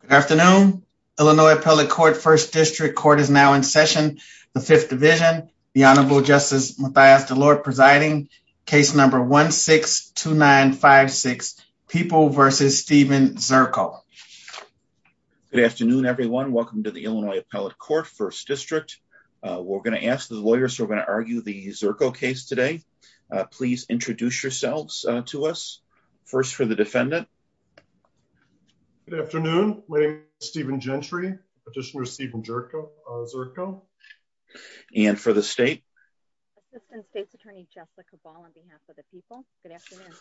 Good afternoon, Illinois Appellate Court First District Court is now in session, the Fifth Division. The Honorable Justice Mathias DeLorde presiding, case number 1-6-2956, People v. Stephen Zirkle. Good afternoon everyone, welcome to the Illinois Appellate Court First District. We're going to ask the lawyers who are going to argue the Zirkle case today. Please introduce yourselves to us. First for the defendant. Good afternoon, my name is Stephen Gentry, Petitioner Stephen Zirkle. And for the state. Assistant State's Attorney Jessica Ball on behalf of the people, good afternoon.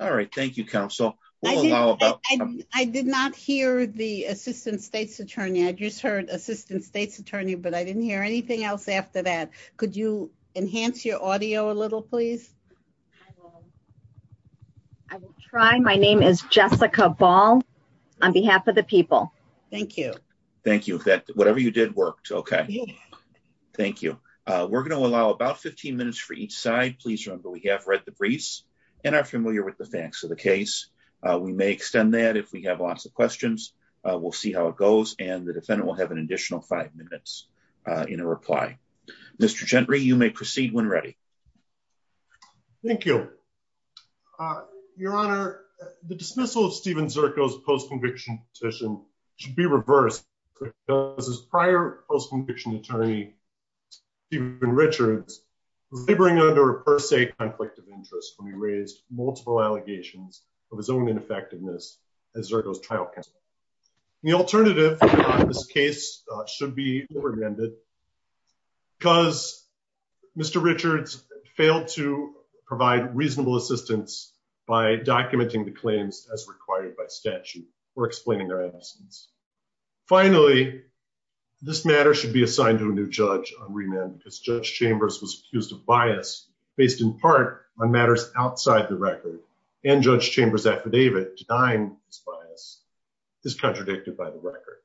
All right, thank you counsel. I did not hear the Assistant State's Attorney, I just heard Assistant State's Attorney but I didn't hear anything else after that. Could you enhance your audio a little please? I will try. My name is Jessica Ball on behalf of the people. Thank you. Thank you. Whatever you did worked. Okay. Thank you. We're going to allow about 15 minutes for each side. Please remember we have read the briefs and are familiar with the facts of the case. We may extend that if we have lots of questions. We'll see how it goes and the defendant will have an additional five minutes in a reply. Mr. Gentry, you may proceed when ready. Thank you. Your Honor, the dismissal of Stephen Zirkle's post-conviction petition should be reversed because his prior post-conviction attorney, Stephen Richards, was laboring under a per se conflict of interest when he raised multiple allegations of his own ineffectiveness as Zirkle's trial counsel. The alternative in this case should be remanded because Mr. Richards failed to provide reasonable assistance by documenting the claims as required by statute or explaining their absence. Finally, this matter should be assigned to a new judge on remand because Judge Chambers was accused of bias based in part on matters outside the record and Judge Chambers' affidavit denying this bias is contradicted by the record.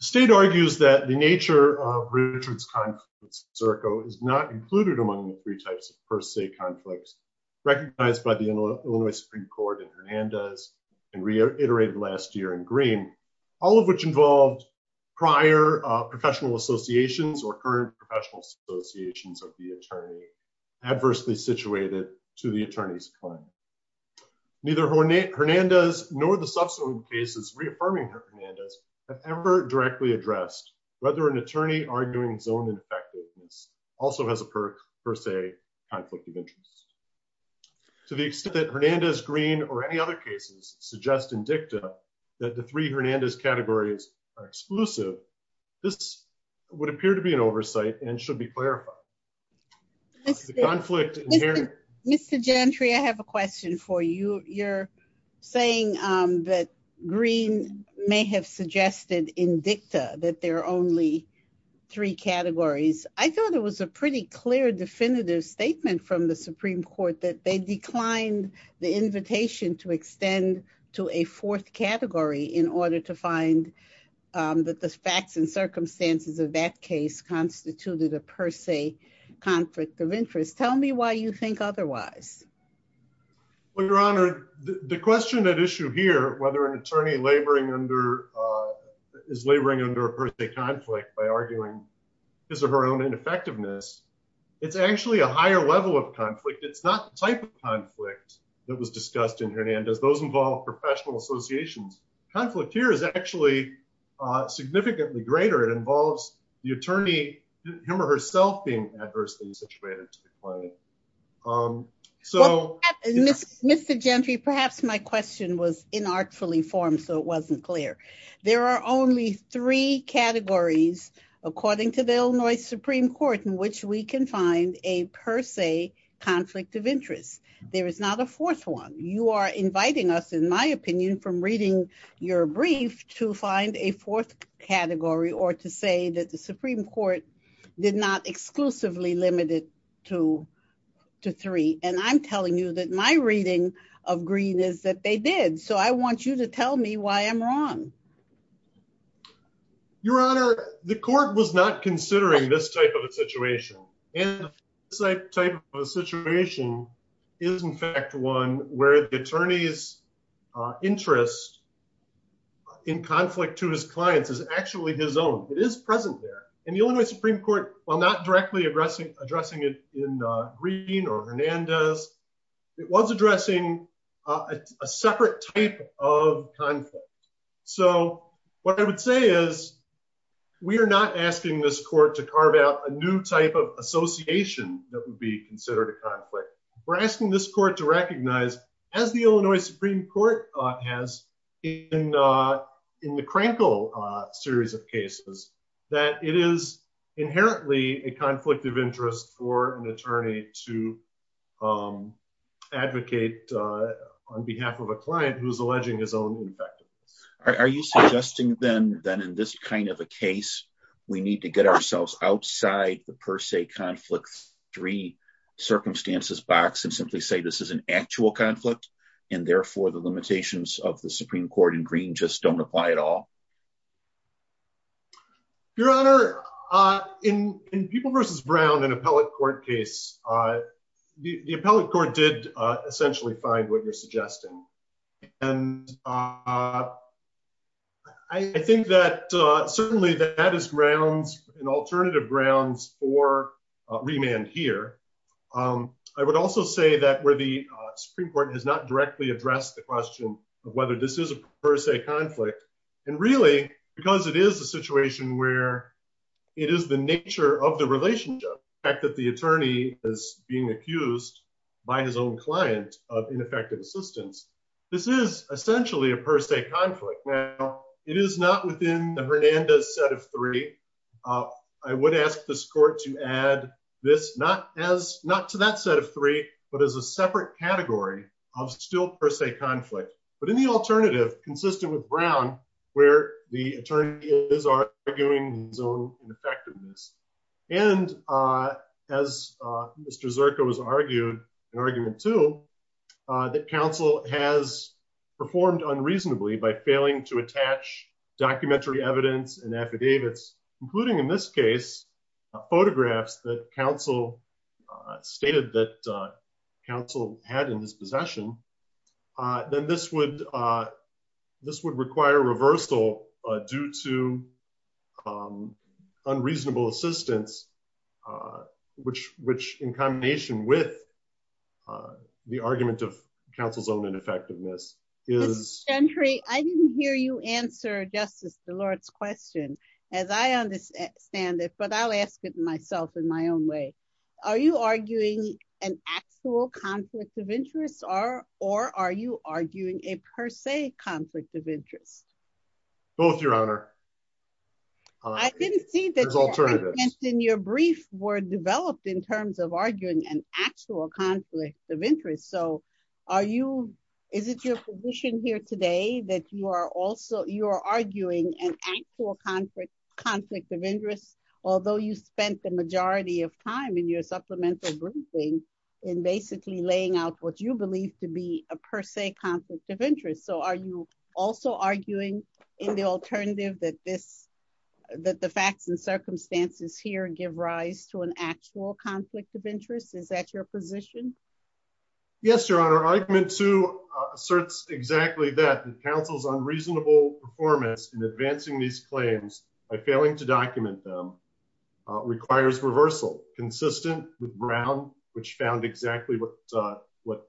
The state argues that the nature of Richards' conflicts with Zirkle is not included among the three types of per se conflicts recognized by the Illinois Supreme Court in Hernandez and reiterated last year in Green, all of which involved prior professional associations or current professional associations of the attorney adversely situated to the attorney's claim. Neither Hernandez nor the subsequent cases reaffirming Hernandez have ever directly addressed whether an attorney arguing his own ineffectiveness also has a per se conflict of interest. To the extent that Hernandez, Green, or any other cases suggest in dicta that the three Hernandez categories are exclusive, this would appear to be an oversight and should be clarified. Mr. Gentry, I have a question for you. You're saying that Green may have suggested in dicta that there are only three categories. I thought it was a pretty clear definitive statement from the Supreme Court that they declined the invitation to extend to a fourth category in order to find that the facts and conflict of interest. Tell me why you think otherwise. Well, Your Honor, the question at issue here, whether an attorney is laboring under a per se conflict by arguing his or her own ineffectiveness, it's actually a higher level of conflict. It's not the type of conflict that was discussed in Hernandez. Those involve professional associations. Conflict here is actually significantly greater. It involves the attorney, him or herself, being adversely situated. Mr. Gentry, perhaps my question was inartfully formed, so it wasn't clear. There are only three categories, according to the Illinois Supreme Court, in which we can find a per se conflict of interest. There is not a fourth one. You are inviting us, in my opinion, from reading your brief to find a fourth category or to say that the Supreme Court did not exclusively limit it to three. And I'm telling you that my reading of Green is that they did. So I want you to tell me why I'm wrong. Your Honor, the court was not considering this type of a situation. And this type of a situation is, in fact, one where the attorney's interest in conflict to his clients is actually his own. It is present there. And the Illinois Supreme Court, while not directly addressing it in Green or Hernandez, it was addressing a separate type of conflict. So what I would say is we are not asking this court to carve out a new type of association that would be considered a conflict. We're asking this court to recognize, as the Illinois Supreme Court has in the Krankel series of cases, that it is inherently a conflict of interest for an attorney to Are you suggesting, then, that in this kind of a case, we need to get ourselves outside the per se conflict three circumstances box and simply say this is an actual conflict and therefore the limitations of the Supreme Court in Green just don't apply at all? Your Honor, in People v. Brown, an appellate court case, the appellate court did essentially find what you're suggesting. And I think that certainly that is grounds and alternative grounds for remand here. I would also say that where the Supreme Court has not directly addressed the question of whether this is a per se conflict, and really, because it is a situation where it is the nature of the relationship, the fact that the attorney is being accused by his own client of ineffective assistance, this is essentially a per se conflict. Now, it is not within the Hernandez set of three. I would ask this court to add this not to that set of three, but as a separate category of still per se conflict, but in the alternative consistent with Brown, where the attorney is arguing his own ineffectiveness. And as Mr. Zirko has argued, an argument too, that counsel has performed unreasonably by failing to attach documentary evidence and affidavits, including in this case, photographs that counsel stated that counsel had in his possession, then this would require reversal due to unreasonable assistance, which in combination with the argument of counsel's own ineffectiveness is... Ms. Gentry, I didn't hear you answer Justice Delord's question as I understand it, but I'll ask it myself in my own way. Are you arguing an actual conflict of interest or are you arguing a per se conflict of interest? Both, Your Honor. I didn't see that your arguments in your brief were developed in terms of arguing an actual conflict of interest. So, is it your position here today that you are arguing an actual conflict of interest, although you spent the majority of time in your supplemental briefing in basically laying out what you believe to be a per se conflict of interest. So, are you also arguing in the alternative that the facts and circumstances here give rise to an actual conflict of interest? Is that your position? Yes, Your Honor. Argument two asserts exactly that, that counsel's unreasonable performance in advancing these claims by failing to document them requires reversal consistent with Brown, which found exactly what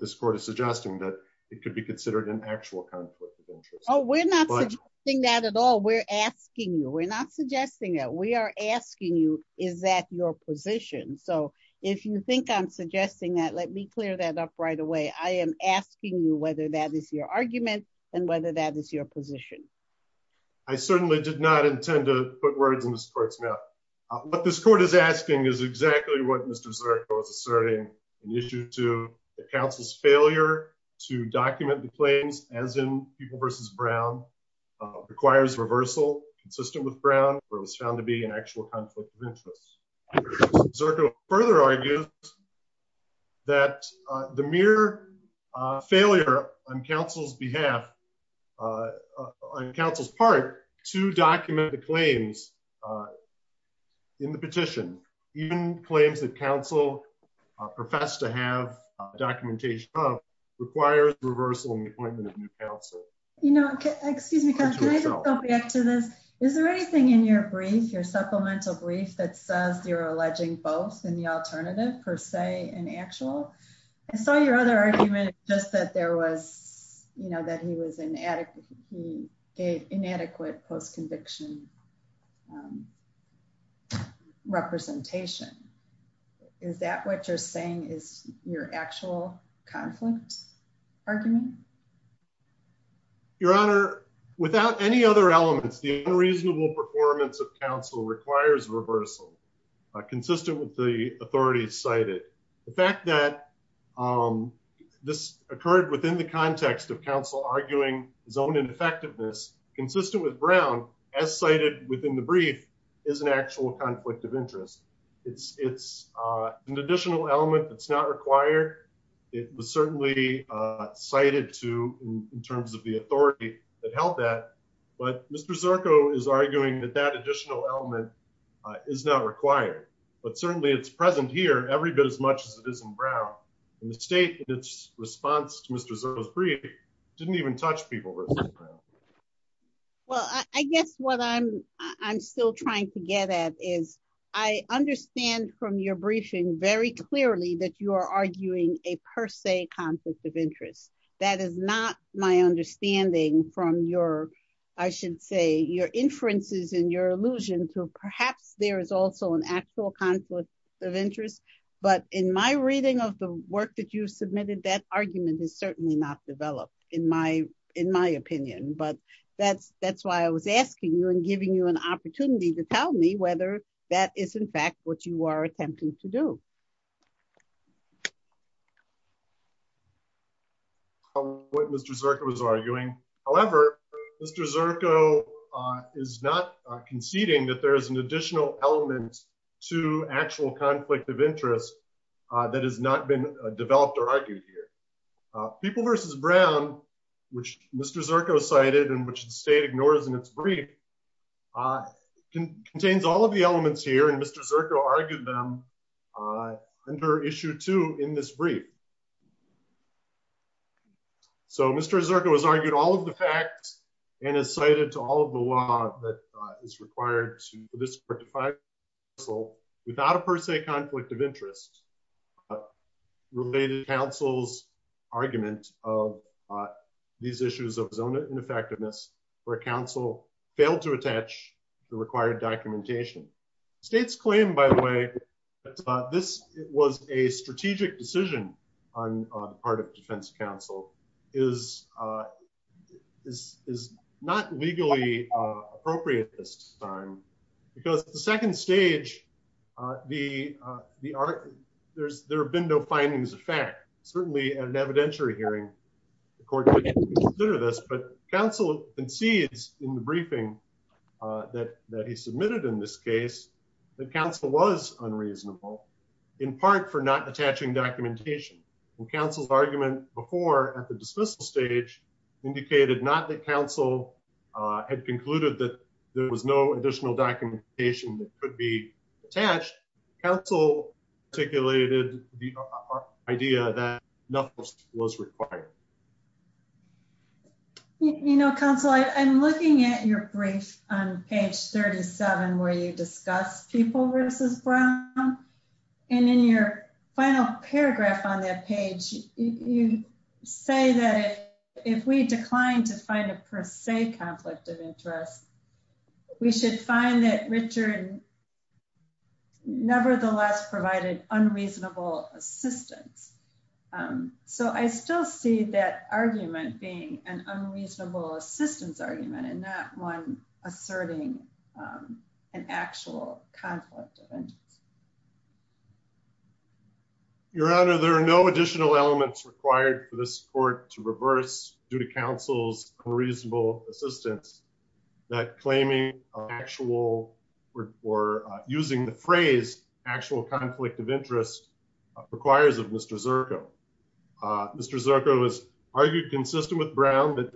this court is suggesting, that it could be considered an actual conflict of interest. Oh, we're not suggesting that at all. We're asking you. We're not suggesting that. We are asking you, is that your position? So, if you think I'm suggesting that, let me clear that up right away. I am asking you whether that is your argument and whether that is your position. I certainly did not intend to put words in this court's mouth. What this court is asking is exactly what Mr. Zirko was asserting an issue to the counsel's failure to document the claims as in people versus Brown requires reversal consistent with Brown, where it was found to be an actual conflict of interest. Zirko further argues that the mere failure on counsel's behalf, on counsel's part to document the claims in the petition, even claims that counsel professed to have documentation of requires reversal in the appointment of new counsel. You know, excuse me, can I just go back to this? Is there anything in your brief, your supplemental brief that says you're alleging both in the alternative per se and actual? I saw your other argument, just that there was, you know, that he was inadequate, inadequate post-conviction representation. Is that what you're saying is your actual conflict argument? Your honor, without any other elements, the unreasonable performance of counsel requires reversal consistent with the authority cited. The fact that this occurred within the context of counsel arguing his own ineffectiveness consistent with Brown as cited within the brief is an actual conflict of interest. It's an additional element that's not required. It was certainly cited to in terms of the authority that held that, but Mr. Zirko is arguing that that additional element is not required, but certainly it's present here every bit as much as it is in Brown. And the state in its response to Mr. Zirko's brief didn't even touch people. Well, I guess what I'm still trying to get at is I understand from your briefing very clearly that you are arguing a per se conflict of interest. That is not my understanding from your, I should say, your inferences and your illusion to perhaps there is also an actual conflict of interest, but in my reading of the work that you submitted, that argument is certainly not developed in my opinion, but that's why I was asking you and giving you an opportunity to tell me whether that is in fact what you are attempting to do. What Mr. Zirko was arguing, however, Mr. Zirko is not conceding that there is an additional element to actual conflict of interest that has not been developed or argued here. People versus Brown, which Mr. Zirko cited and which the state ignores in its brief, contains all of the elements here and Mr. Zirko argued them under issue two in this So Mr. Zirko has argued all of the facts and has cited to all of the law that is required to disqualify counsel without a per se conflict of interest. Related counsel's argument of these issues of zone of ineffectiveness where counsel failed to attach the required documentation. States claim, by the way, that this was a strategic decision on the part of defense counsel is not legally appropriate this time because the second stage, there have been no findings of fact. Certainly at an evidentiary hearing, the court would consider this, but counsel concedes in the briefing that he submitted in this case that counsel was unreasonable in part for not attaching documentation and counsel's argument before at the dismissal stage indicated not that counsel had concluded that there was no additional documentation that could be attached. Counsel articulated the idea that nothing was required. You know, counsel, I'm looking at your brief on page 37 where you discuss people versus Brown and in your final paragraph on that page, you say that if we decline to find a per se conflict of interest, we should find that Richard nevertheless provided unreasonable assistance. So I still see that argument being an unreasonable assistance argument and not one asserting an actual conflict of interest. Your Honor, there are no additional elements required for this court to reverse due to using the phrase actual conflict of interest requires of Mr. Zirko. Mr. Zirko has argued consistent with Brown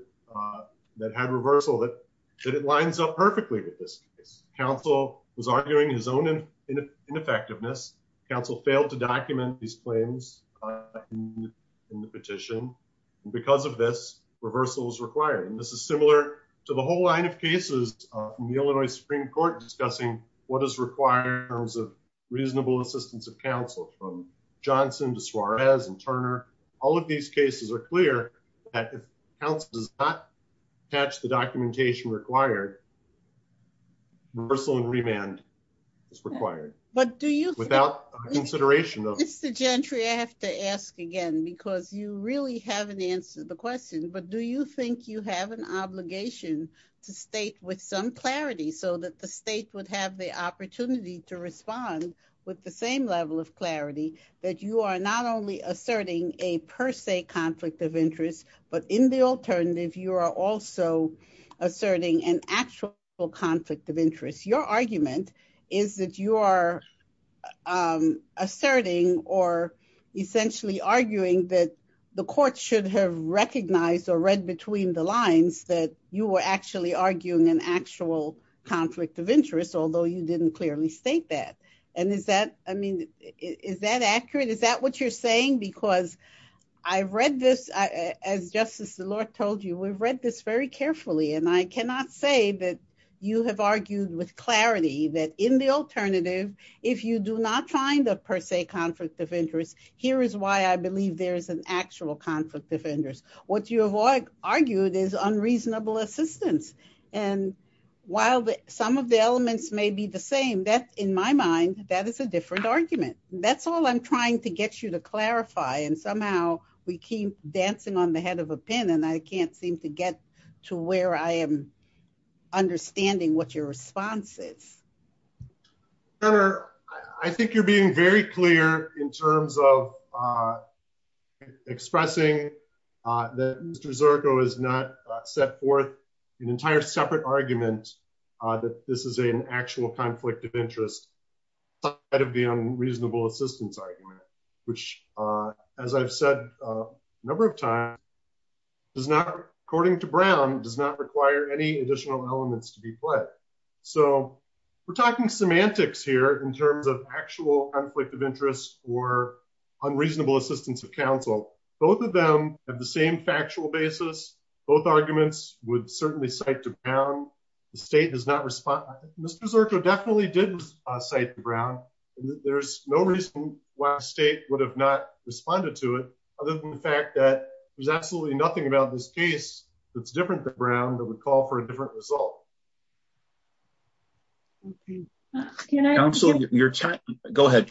that had reversal that it lines up perfectly with this case. Counsel was arguing his own ineffectiveness. Counsel failed to document these claims in the petition. Because of this, reversal is required. This is similar to the whole line of cases in the Illinois Supreme Court discussing what is required in terms of reasonable assistance of counsel from Johnson to Suarez and Turner. All of these cases are clear that if counsel does not attach the documentation required, reversal and remand is required. But do you without consideration of Mr. Gentry, I have to ask again, because you really haven't answered the question. But do you think you have an obligation to state with some clarity so that the state would have the opportunity to respond with the same level of clarity that you are not only asserting a per se conflict of interest, but in the alternative, you are also asserting an actual conflict of interest. Your argument is that you are asserting or essentially arguing that the court should have recognized or read between the lines that you were actually arguing an actual conflict of interest, although you didn't clearly state that. And is that, I mean, is that accurate? Is that what you're saying? Because I've read this, as Justice Szilard told you, we've read this very carefully. And I cannot say that you have argued with clarity that in the alternative, if you do not find a per se conflict of interest, here is why I believe there is an actual conflict of interest. What you have argued is unreasonable assistance. And while some of the elements may be the same, that in my mind, that is a different argument. That's all I'm trying to get you to clarify. And somehow we keep dancing on the head of a pin, and I can't seem to get to where I am understanding what your response is. Senator, I think you're being very clear in terms of expressing that Mr. Zirko has not set forth an entire separate argument that this is an actual conflict of interest, outside the unreasonable assistance argument, which, as I've said a number of times, does not, according to Brown, does not require any additional elements to be played. So we're talking semantics here in terms of actual conflict of interest or unreasonable assistance of counsel. Both of them have the same factual basis. Both arguments would certainly cite to Brown. The state has not responded. Mr. Zirko definitely did cite Brown. There's no reason why the state would have not responded to it, other than the fact that there's absolutely nothing about this case that's different than Brown that would call for a different result. Counsel, your time. Go ahead,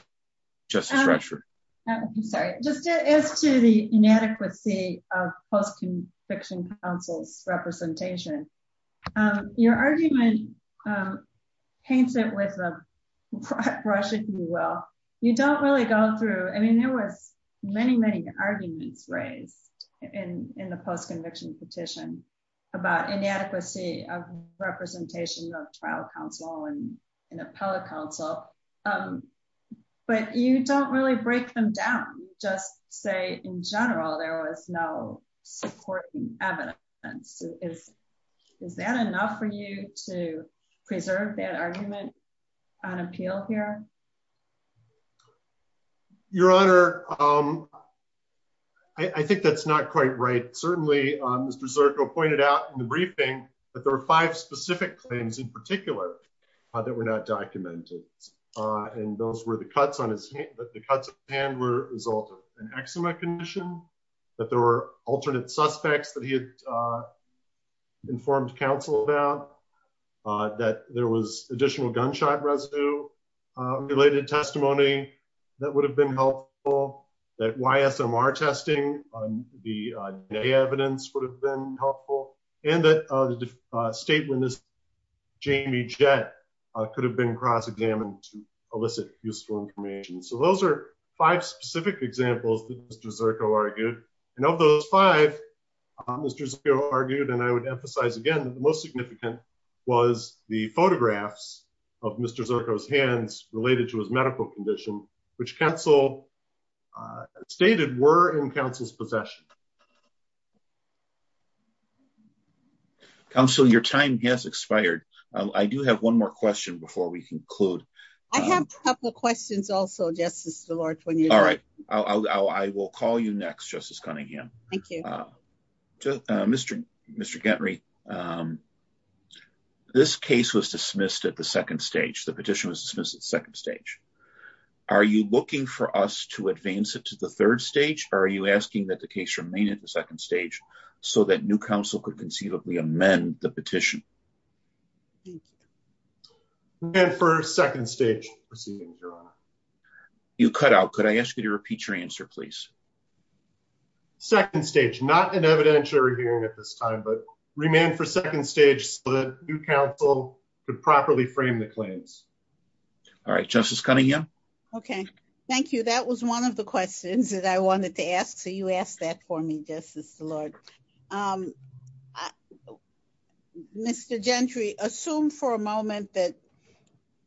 Justice Retscher. Sorry. Just as to the inadequacy of post-conviction counsel's representation, your argument paints it with a brush, if you will. You don't really go through. I mean, there was many, many arguments raised in the post-conviction petition about inadequacy of representation of trial counsel and appellate counsel. But you don't really break them down. You just say, in general, there was no supporting evidence. Is that enough for you to preserve that argument on appeal here? Your Honor, I think that's not quite right. Certainly, Mr. Zirko pointed out in the briefing that there were five specific claims in particular that were not documented. And those were the cuts on his hand were a result of an eczema condition, that there were alternate suspects that he had informed counsel about, that there was additional gunshot residue-related testimony that would have been helpful, that YSMR testing on the day evidence would have been helpful, and that the statement of Jamie Jett could have been cross-examined to elicit useful information. So those are five specific examples that Mr. Zirko argued. And of those five, Mr. Zirko argued, and I would emphasize again, that the most significant was the photographs of Mr. Zirko's hands related to his medical condition, which counsel stated were in counsel's possession. Counsel, your time has expired. I do have one more question before we conclude. I have a couple of questions also, Justice DeLorge. All right, I will call you next, Justice Cunningham. Thank you. Mr. Gentry, this case was dismissed at the second stage. The petition was dismissed at the second stage. Are you looking for us to advance it to the third stage, or are you asking that the case remain at the second stage so that new counsel could conceivably amend the petition? And for second stage proceeding, Your Honor. You cut out. Could I ask you to repeat your answer, please? Second stage, not an evidentiary hearing at this time, but remain for second stage so that new counsel could properly frame the claims. All right, Justice Cunningham. Okay, thank you. That was one of the questions that I wanted to ask. So you asked that for me, Justice DeLorge. Mr. Gentry, assume for a moment that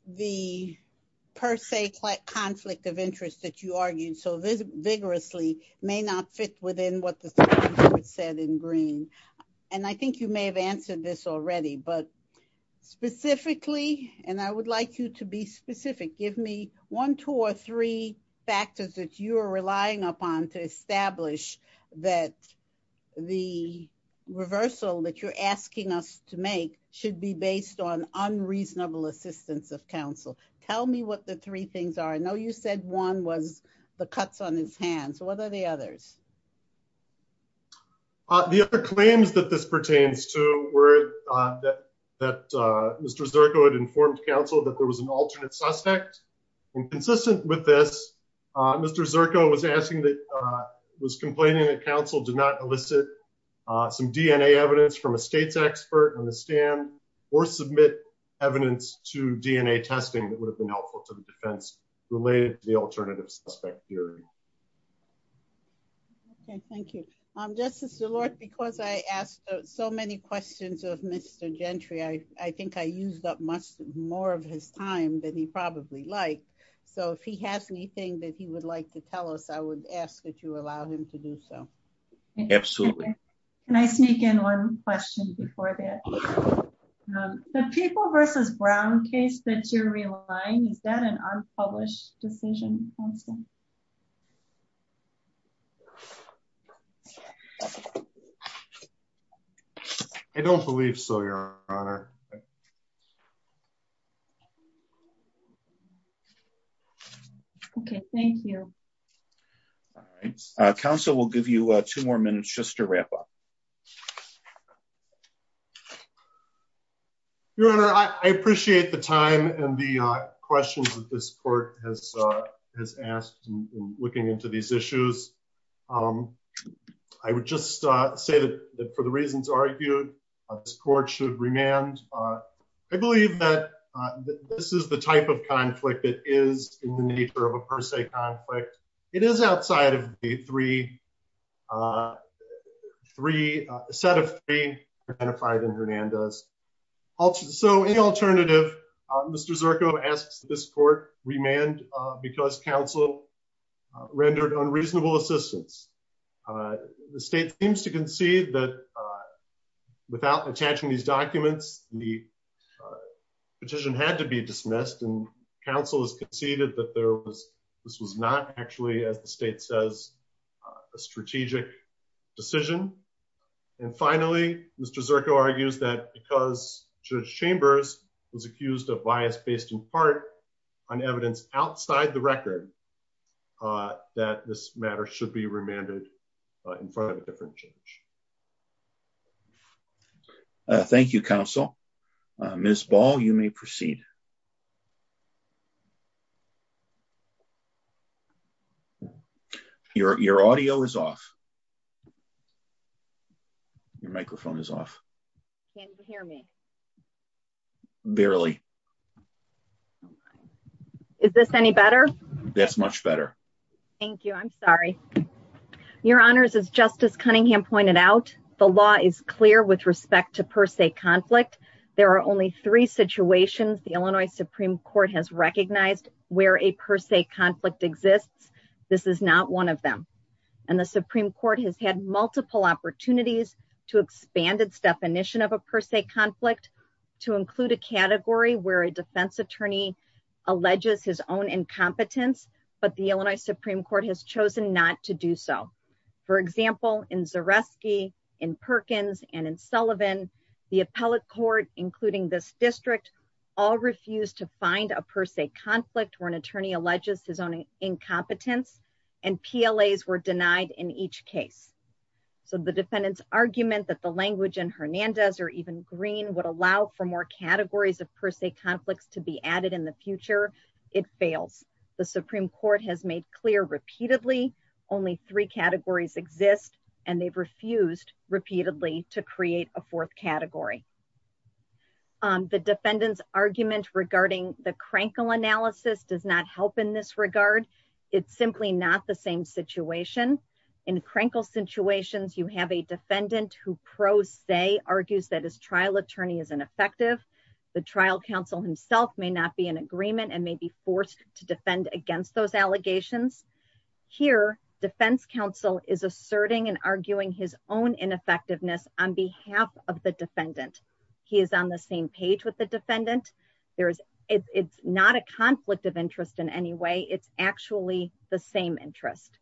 the per se conflict of interest that you argued so vigorously may not fit within what the statute said in green. And I think you may have answered this already. But specifically, and I would like you to be specific, give me one, two or three factors that you are relying upon to establish that the reversal that you're asking us to make should be based on unreasonable assistance of counsel. Tell me what the three things are. I know you said one was the cuts on his hands. What are the others? The other claims that this pertains to were that Mr. Zirko had informed counsel that there was an alternate suspect. And consistent with this, Mr. Zirko was asking that, was complaining that counsel did not elicit some DNA evidence from a state's expert on the stand or submit evidence to DNA testing that would have been helpful to the defense related to the alternative suspect theory. Okay, thank you. Justice DeLorge, because I asked so many questions of Mr. Gentry, I think I used up more of his time than he probably liked. So if he has anything that he would like to tell us, I would ask that you allow him to do so. Absolutely. Can I sneak in one question before that? The people versus Brown case that you're relying, is that an unpublished decision? I don't believe so, Your Honor. Okay, thank you. All right. Counsel will give you two more minutes just to wrap up. Your Honor, I appreciate the time and the questions that this court has asked in looking into these issues. I would just say that for the reasons argued, this court should remand. I believe that this is the type of conflict that is in the nature of a per se conflict. It is outside of the set of three identified in Hernandez. So any alternative, Mr. Zirko asks this court remand because counsel rendered unreasonable assistance. The state seems to concede that without attaching these documents, the petition had to be dismissed and counsel has conceded that this was not actually, as the state says, a strategic decision. And finally, Mr. Zirko argues that because Judge Chambers was accused of bias based in part on evidence outside the record, that this matter should be remanded in front of a different judge. Thank you, counsel. Ms. Ball, you may proceed. Your audio is off. Your microphone is off. Can you hear me? Barely. Is this any better? That's much better. Thank you. I'm sorry. Your honors, as Justice Cunningham pointed out, the law is clear with respect to per se conflict. There are only three situations the Illinois Supreme Court has recognized where a per se conflict exists. This is not one of them. And the Supreme Court has had multiple opportunities to expand its definition of a per se conflict to include a category where a defense attorney alleges his own incompetence, but the Illinois Supreme Court has chosen not to do so. For example, in Zareski, in Perkins, and in Sullivan, the appellate court, including this district, all refused to find a per se conflict where an attorney alleges his own incompetence and PLAs were denied in each case. So the defendant's argument that the language in Hernandez or even Green would allow for more categories of per se conflicts to be added in the future, it fails. The Supreme Court has made clear repeatedly, only three categories exist, and they've refused repeatedly to create a fourth category. The defendant's argument regarding the Krenkel analysis does not help in this regard. It's simply not the same situation. In Krenkel situations, you have a defendant who pro se argues that his trial attorney is ineffective. The trial counsel himself may not be in agreement and may be forced to defend against those allegations. Here, defense counsel is asserting and arguing his own ineffectiveness on behalf of the defendant. He is on the same page with the defendant. There is, it's not a conflict of interest in any way. It's actually the same interest.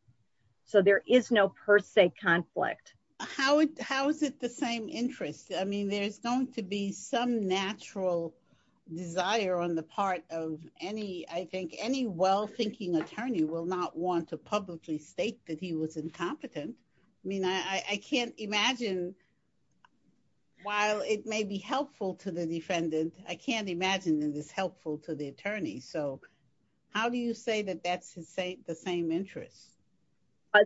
So there is no per se conflict. How is it the same interest? I mean, there's going to be some natural desire on the part of any, I think any well thinking attorney will not want to publicly state that he was incompetent. I mean, I can't imagine. While it may be helpful to the defendant, I can't imagine it is helpful to the attorney. So how do you say that that's the same interest?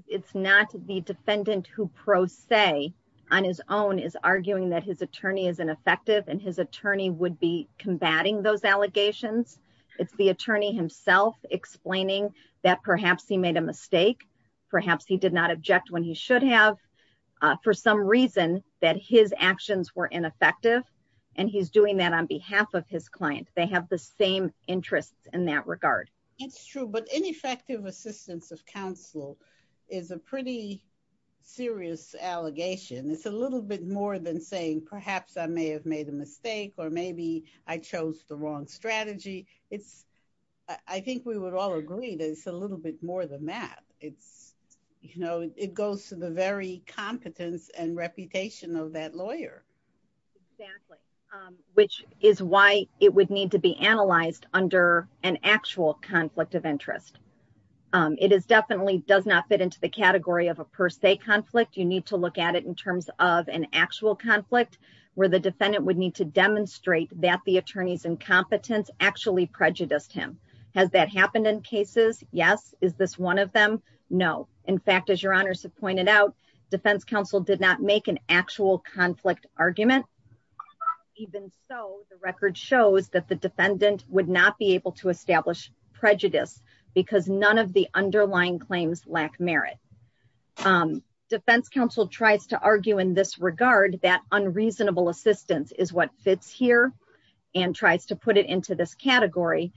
It's not the defendant who pro se on his own is arguing that his attorney is ineffective and his attorney would be combating those allegations. It's the attorney himself explaining that perhaps he made a mistake. Perhaps he did not object when he should have for some reason that his actions were ineffective. And he's doing that on behalf of his client. They have the same interests in that regard. It's true. But ineffective assistance of counsel is a pretty serious allegation. It's a little bit more than saying, perhaps I may have made a mistake or maybe I chose the wrong strategy. It's, I think we would all agree that it's a little bit more than that. It's, you know, it goes to the very competence and reputation of that lawyer. Exactly, which is why it would need to be analyzed under an actual conflict of interest. It is definitely does not fit into the category of a per se conflict. You need to look at it in terms of an actual conflict where the defendant would need to demonstrate that the attorney's incompetence actually prejudiced him. Has that happened in cases? Yes. Is this one of them? No. In fact, as your honors have pointed out, defense counsel did not make an actual conflict argument. Even so, the record shows that the defendant would not be able to establish prejudice because none of the underlying claims lack merit. Defense counsel tries to argue in this regard that unreasonable assistance is what fits here and tries to put it into this category.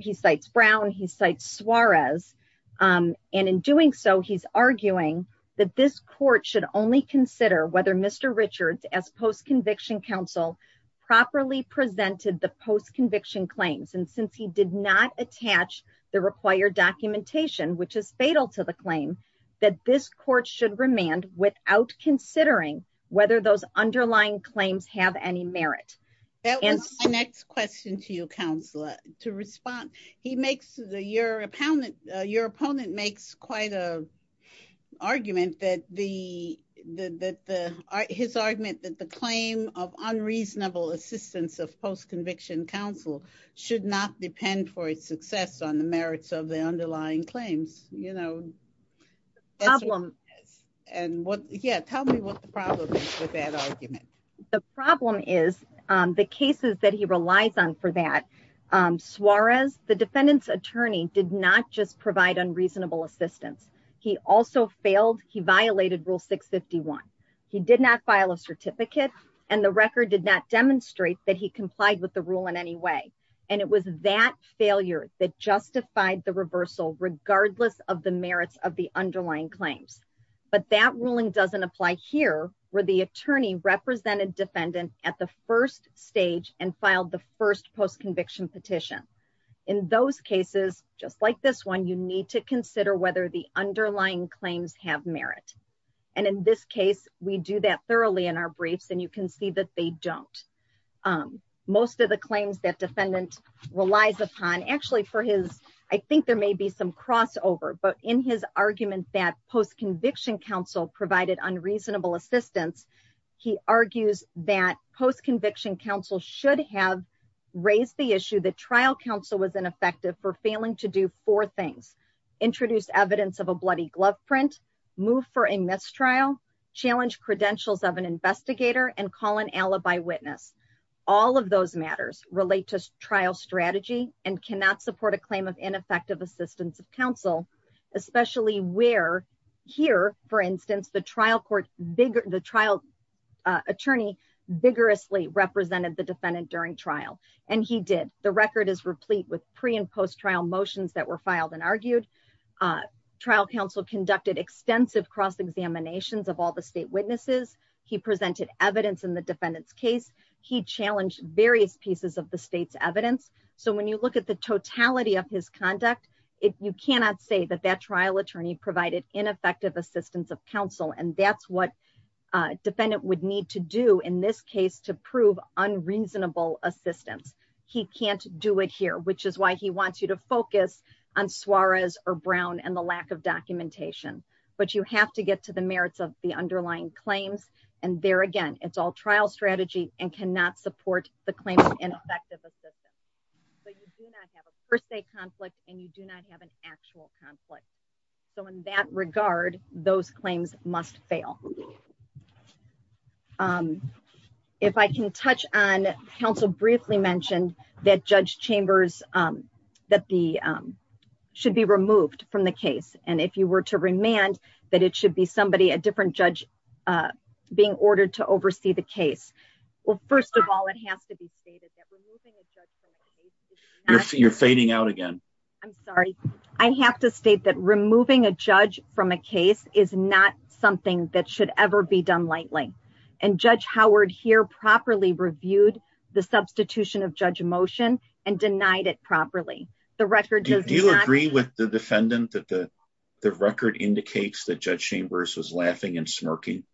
He cites Brown. He cites Suarez. And in doing so, he's arguing that this court should only consider whether Mr. Richards, as post-conviction counsel, properly presented the post-conviction claims. And since he did not attach the required documentation, which is fatal to the claim, that this court should remand without considering whether those underlying claims have any merit. That was my next question to you, Counselor. To respond, your opponent makes quite an argument that his argument that the claim of unreasonable assistance of post-conviction counsel should not depend for its success on the merits of the underlying claims. Yeah, tell me what the problem is with that argument. The problem is the cases that he relies on for that. Suarez, the defendant's attorney, did not just provide unreasonable assistance. He also failed. He violated Rule 651. He did not file a certificate, and the record did not demonstrate that he complied with the rule in any way. And it was that failure that justified the reversal, regardless of the merits of the underlying claims. But that ruling doesn't apply here, where the attorney represented defendant at the first stage and filed the first post-conviction petition. In those cases, just like this one, you need to consider whether the underlying claims have merit. And in this case, we do that thoroughly in our briefs, and you can see that they don't. Most of the claims that defendant relies upon, actually for his, I think there may be some provided unreasonable assistance, he argues that post-conviction counsel should have raised the issue that trial counsel was ineffective for failing to do four things, introduce evidence of a bloody glove print, move for a mistrial, challenge credentials of an investigator, and call an alibi witness. All of those matters relate to trial strategy and cannot support a claim of ineffective assistance of counsel, especially where here, for instance, the trial attorney vigorously represented the defendant during trial. And he did. The record is replete with pre- and post-trial motions that were filed and argued. Trial counsel conducted extensive cross-examinations of all the state witnesses. He presented evidence in the defendant's case. He challenged various pieces of the state's evidence. So when you look at the totality of his conduct, you cannot say that that trial attorney provided ineffective assistance of counsel. And that's what a defendant would need to do in this case to prove unreasonable assistance. He can't do it here, which is why he wants you to focus on Suarez or Brown and the lack of documentation. But you have to get to the merits of the underlying claims. And there again, it's all trial strategy and cannot support the claim of ineffective assistance. But you do not have a per se conflict, and you do not have an actual conflict. So in that regard, those claims must fail. If I can touch on, counsel briefly mentioned that Judge Chambers should be removed from the case. And if you were to remand, that it should be somebody, a different judge, being ordered to oversee the case. Well, first of all, it has to be stated that removing a judge from a case is not... You're fading out again. I'm sorry. I have to state that removing a judge from a case is not something that should ever be done lightly. And Judge Howard here properly reviewed the substitution of judge motion and denied it properly. Do you agree with the defendant that the record indicates that Judge Chambers was laughing and smirking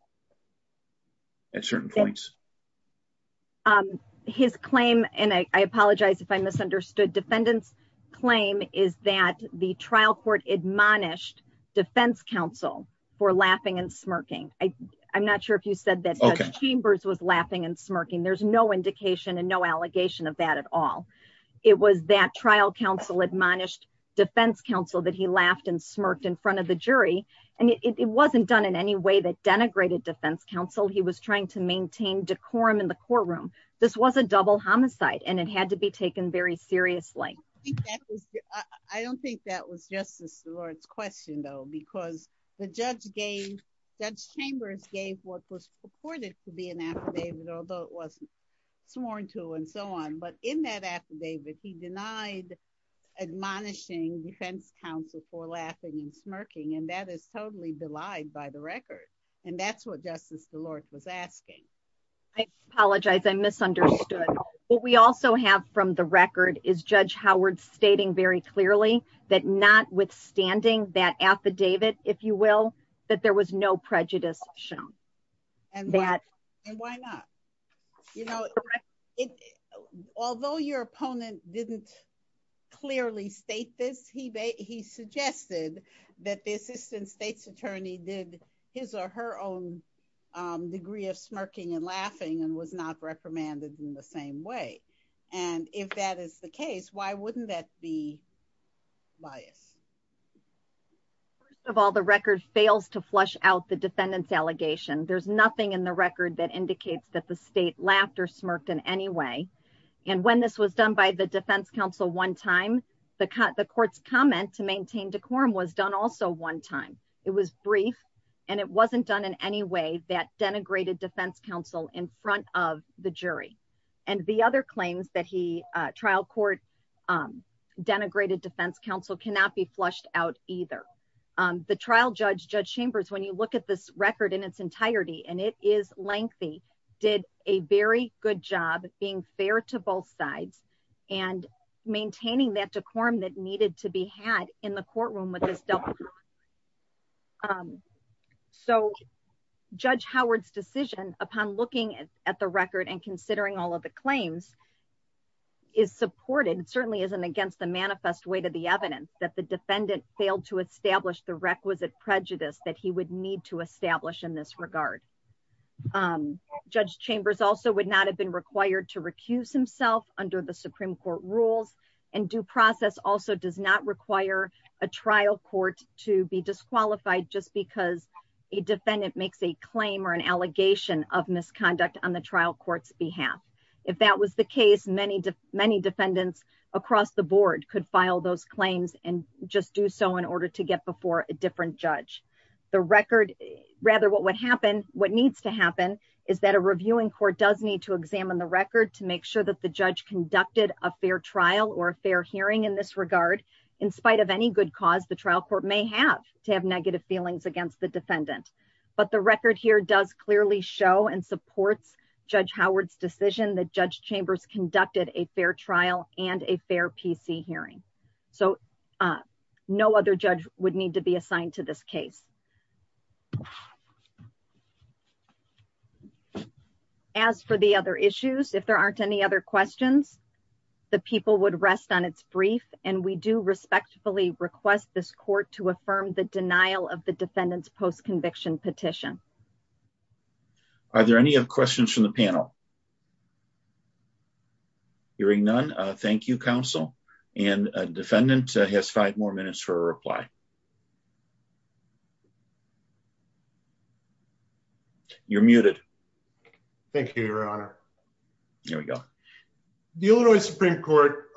at certain points? His claim, and I apologize if I misunderstood, defendant's claim is that the trial court admonished defense counsel for laughing and smirking. I'm not sure if you said that Judge Chambers was laughing and smirking. There's no indication and no allegation of that at all. It was that trial counsel admonished defense counsel that he laughed and smirked in front of the jury. And it wasn't done in any way that denigrated defense counsel. He was trying to maintain decorum in the courtroom. This was a double homicide and it had to be taken very seriously. I don't think that was Justice DeLore's question though, because the judge gave... Judge Chambers gave what was purported to be an affidavit, although it wasn't sworn to and so on. But in that affidavit, he denied admonishing defense counsel for laughing and smirking. And that is totally belied by the record. And that's what Justice DeLore was asking. I apologize. I misunderstood. What we also have from the record is Judge Howard stating very clearly that notwithstanding that affidavit, if you will, that there was no prejudice shown. And why not? You know, although your opponent didn't clearly state this, he suggested that the assistant state's attorney did his or her own degree of smirking and laughing and was not reprimanded in the same way. And if that is the case, why wouldn't that be biased? First of all, the record fails to flush out the defendant's allegation. There's nothing in the record that indicates that the state laughed or smirked in any way. And when this was done by the defense counsel one time, the court's comment to maintain decorum was done also one time. It was brief and it wasn't done in any way that denigrated defense counsel in front of the jury. And the other claims that he trial court denigrated defense counsel cannot be flushed out either. The trial judge, Judge Chambers, when you look at this record in its entirety, and it is lengthy, did a very good job being fair to both sides and maintaining that decorum that needed to be had in the courtroom. So, Judge Howard's decision upon looking at the record and considering all of the claims is supported, certainly isn't against the manifest way to the evidence that the defendant failed to establish the requisite prejudice that he would need to establish in this regard. Judge Chambers also would not have been required to recuse himself under the Supreme Court rules and due process also does not require a trial court to be disqualified just because a defendant makes a claim or an allegation of misconduct on the trial court's behalf. If that was the case, many defendants across the board could file those claims and just do so in order to get before a different judge. The record, rather what would happen, what needs to happen is that a reviewing court does need to examine the record to make sure that the judge conducted a fair trial or a fair hearing in this regard, in spite of any good cause the trial court may have to have negative feelings against the defendant. But the record here does clearly show and supports Judge Howard's decision that Judge Chambers conducted a fair trial and a fair PC hearing. So, no other judge would need to be assigned to this case. As for the other issues, if there aren't any other questions, the people would rest on its brief and we do respectfully request this court to affirm the denial of the defendant's post-conviction petition. Are there any other questions from the panel? Hearing none, thank you, counsel. And defendant has five more minutes for a reply. You're muted. Thank you, Your Honor. Here we go. The Illinois Supreme Court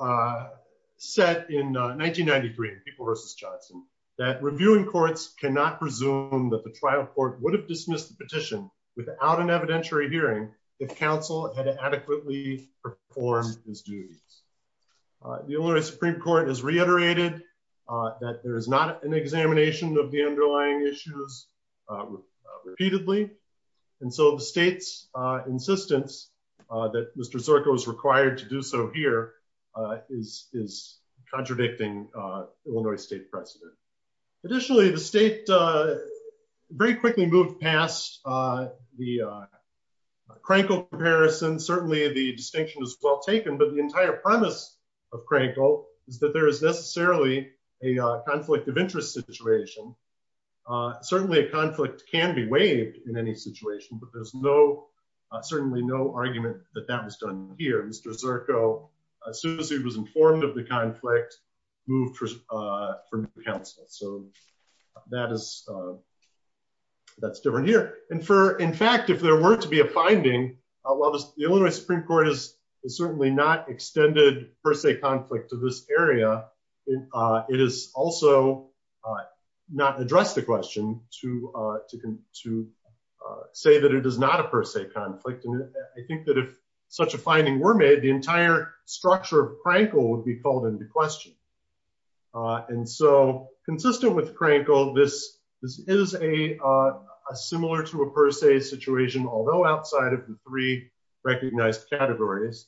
set in 1993, People v. Johnson, that reviewing courts cannot presume that the trial court would have dismissed the petition without an evidentiary hearing if counsel had adequately performed his duties. The Illinois Supreme Court has reiterated that there is not an examination of the underlying issues repeatedly. And so the state's insistence that Mr. Sorko is required to do so here is contradicting Illinois state precedent. Additionally, the state very quickly moved past the Krankle comparison. Certainly, the distinction is well taken. But the entire premise of Krankle is that there is necessarily a conflict of interest situation. Certainly, a conflict can be waived in any situation. But there's certainly no argument that that was done here. Mr. Sorko, as soon as he was informed of the conflict, moved for new counsel. So that's different here. And in fact, if there were to be a finding, while the Illinois Supreme Court has certainly not extended per se conflict to this area, it is also not addressed the question to say that it is not a per se conflict. And I think that if such a finding were made, the entire structure of Krankle would be called into question. And so consistent with Krankle, this is a similar to a per se situation, although outside of the three recognized categories.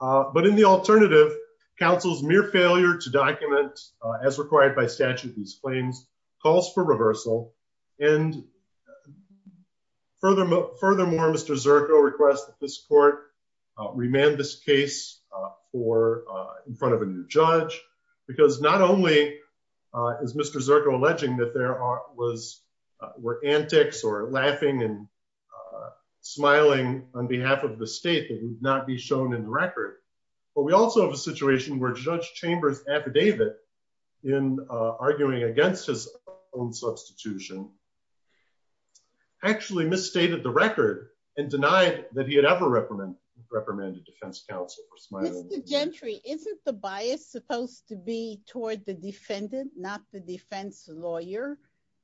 But in the alternative, counsel's mere failure to document, as required by statute, these claims calls for reversal. And furthermore, Mr. Sorko requests that this court remand this case in front of a new judge. Because not only is Mr. Sorko alleging that there were antics or laughing and smiling on behalf of the state that would not be shown in the record, but we also have a situation where Judge Chambers' affidavit in arguing against his own substitution actually misstated the record and denied that he had ever reprimanded defense counsel for smiling. Mr. Gentry, isn't the bias supposed to be toward the defendant, not the defense lawyer?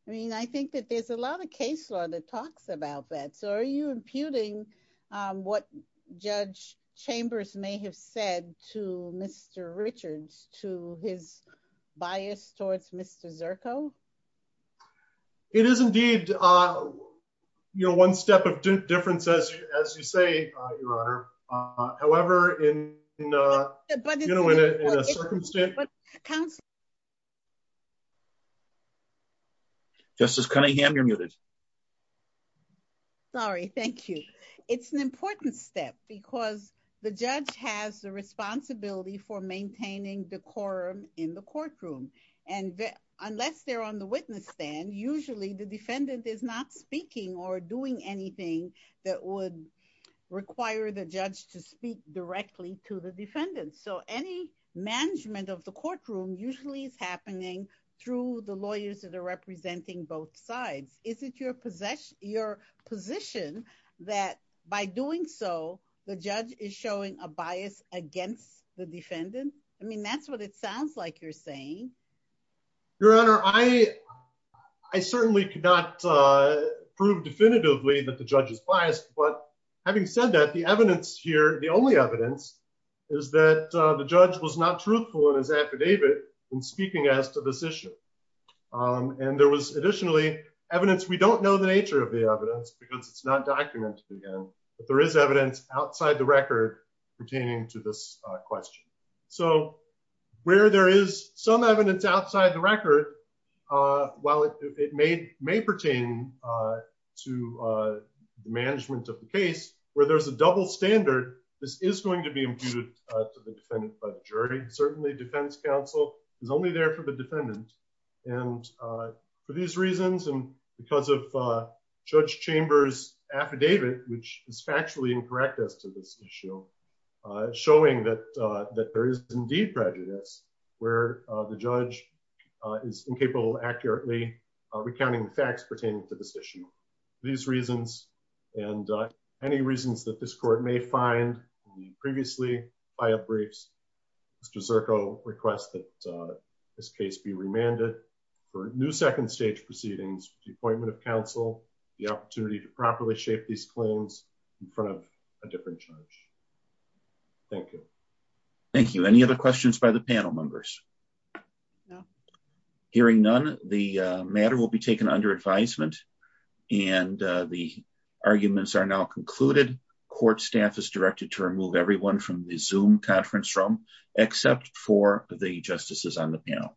I mean, I think that there's a lot of case law that talks about that. So are you imputing what Judge Chambers may have said to Mr. Richards, to his bias towards Mr. Sorko? It is indeed. You know, one step of difference, as you say, Your Honor. However, in, you know, in a circumstance. Justice Cunningham, you're muted. Sorry, thank you. It's an important step because the judge has the responsibility for maintaining decorum in the courtroom. And unless they're on the witness stand, usually the defendant is not speaking or doing anything that would require the judge to speak directly to the defendant. So any management of the courtroom usually is happening through the lawyers that are representing both sides. Is it your position that by doing so, the judge is showing a bias against the defendant? I mean, that's what it sounds like you're saying. Your Honor, I certainly could not prove definitively that the judge is biased. But having said that, the evidence here, the only evidence is that the judge was not truthful in his affidavit in speaking as to this issue. And there was additionally evidence. We don't know the nature of the evidence because it's not documented again. But there is evidence outside the record pertaining to this question. So where there is some evidence outside the record, while it may pertain to the management of the case, where there's a double standard, this is going to be imputed to the defendant by the jury. Certainly, defense counsel is only there for the defendant. And for these reasons and because of Judge Chambers' affidavit, which is factually incorrect as to this issue, showing that there is indeed prejudice, where the judge is incapable of accurately recounting the facts pertaining to this issue. These reasons and any reasons that this court may find previously by a briefs, Mr. Zirko requests that this case be remanded for new second stage proceedings with the appointment of counsel, the opportunity to properly shape these claims in front of a different judge. Thank you. Thank you. Any other questions by the panel members? No. Hearing none, the matter will be taken under advisement. And the arguments are now concluded. Court staff is directed to remove everyone from the Zoom conference room, except for the justices on the panel.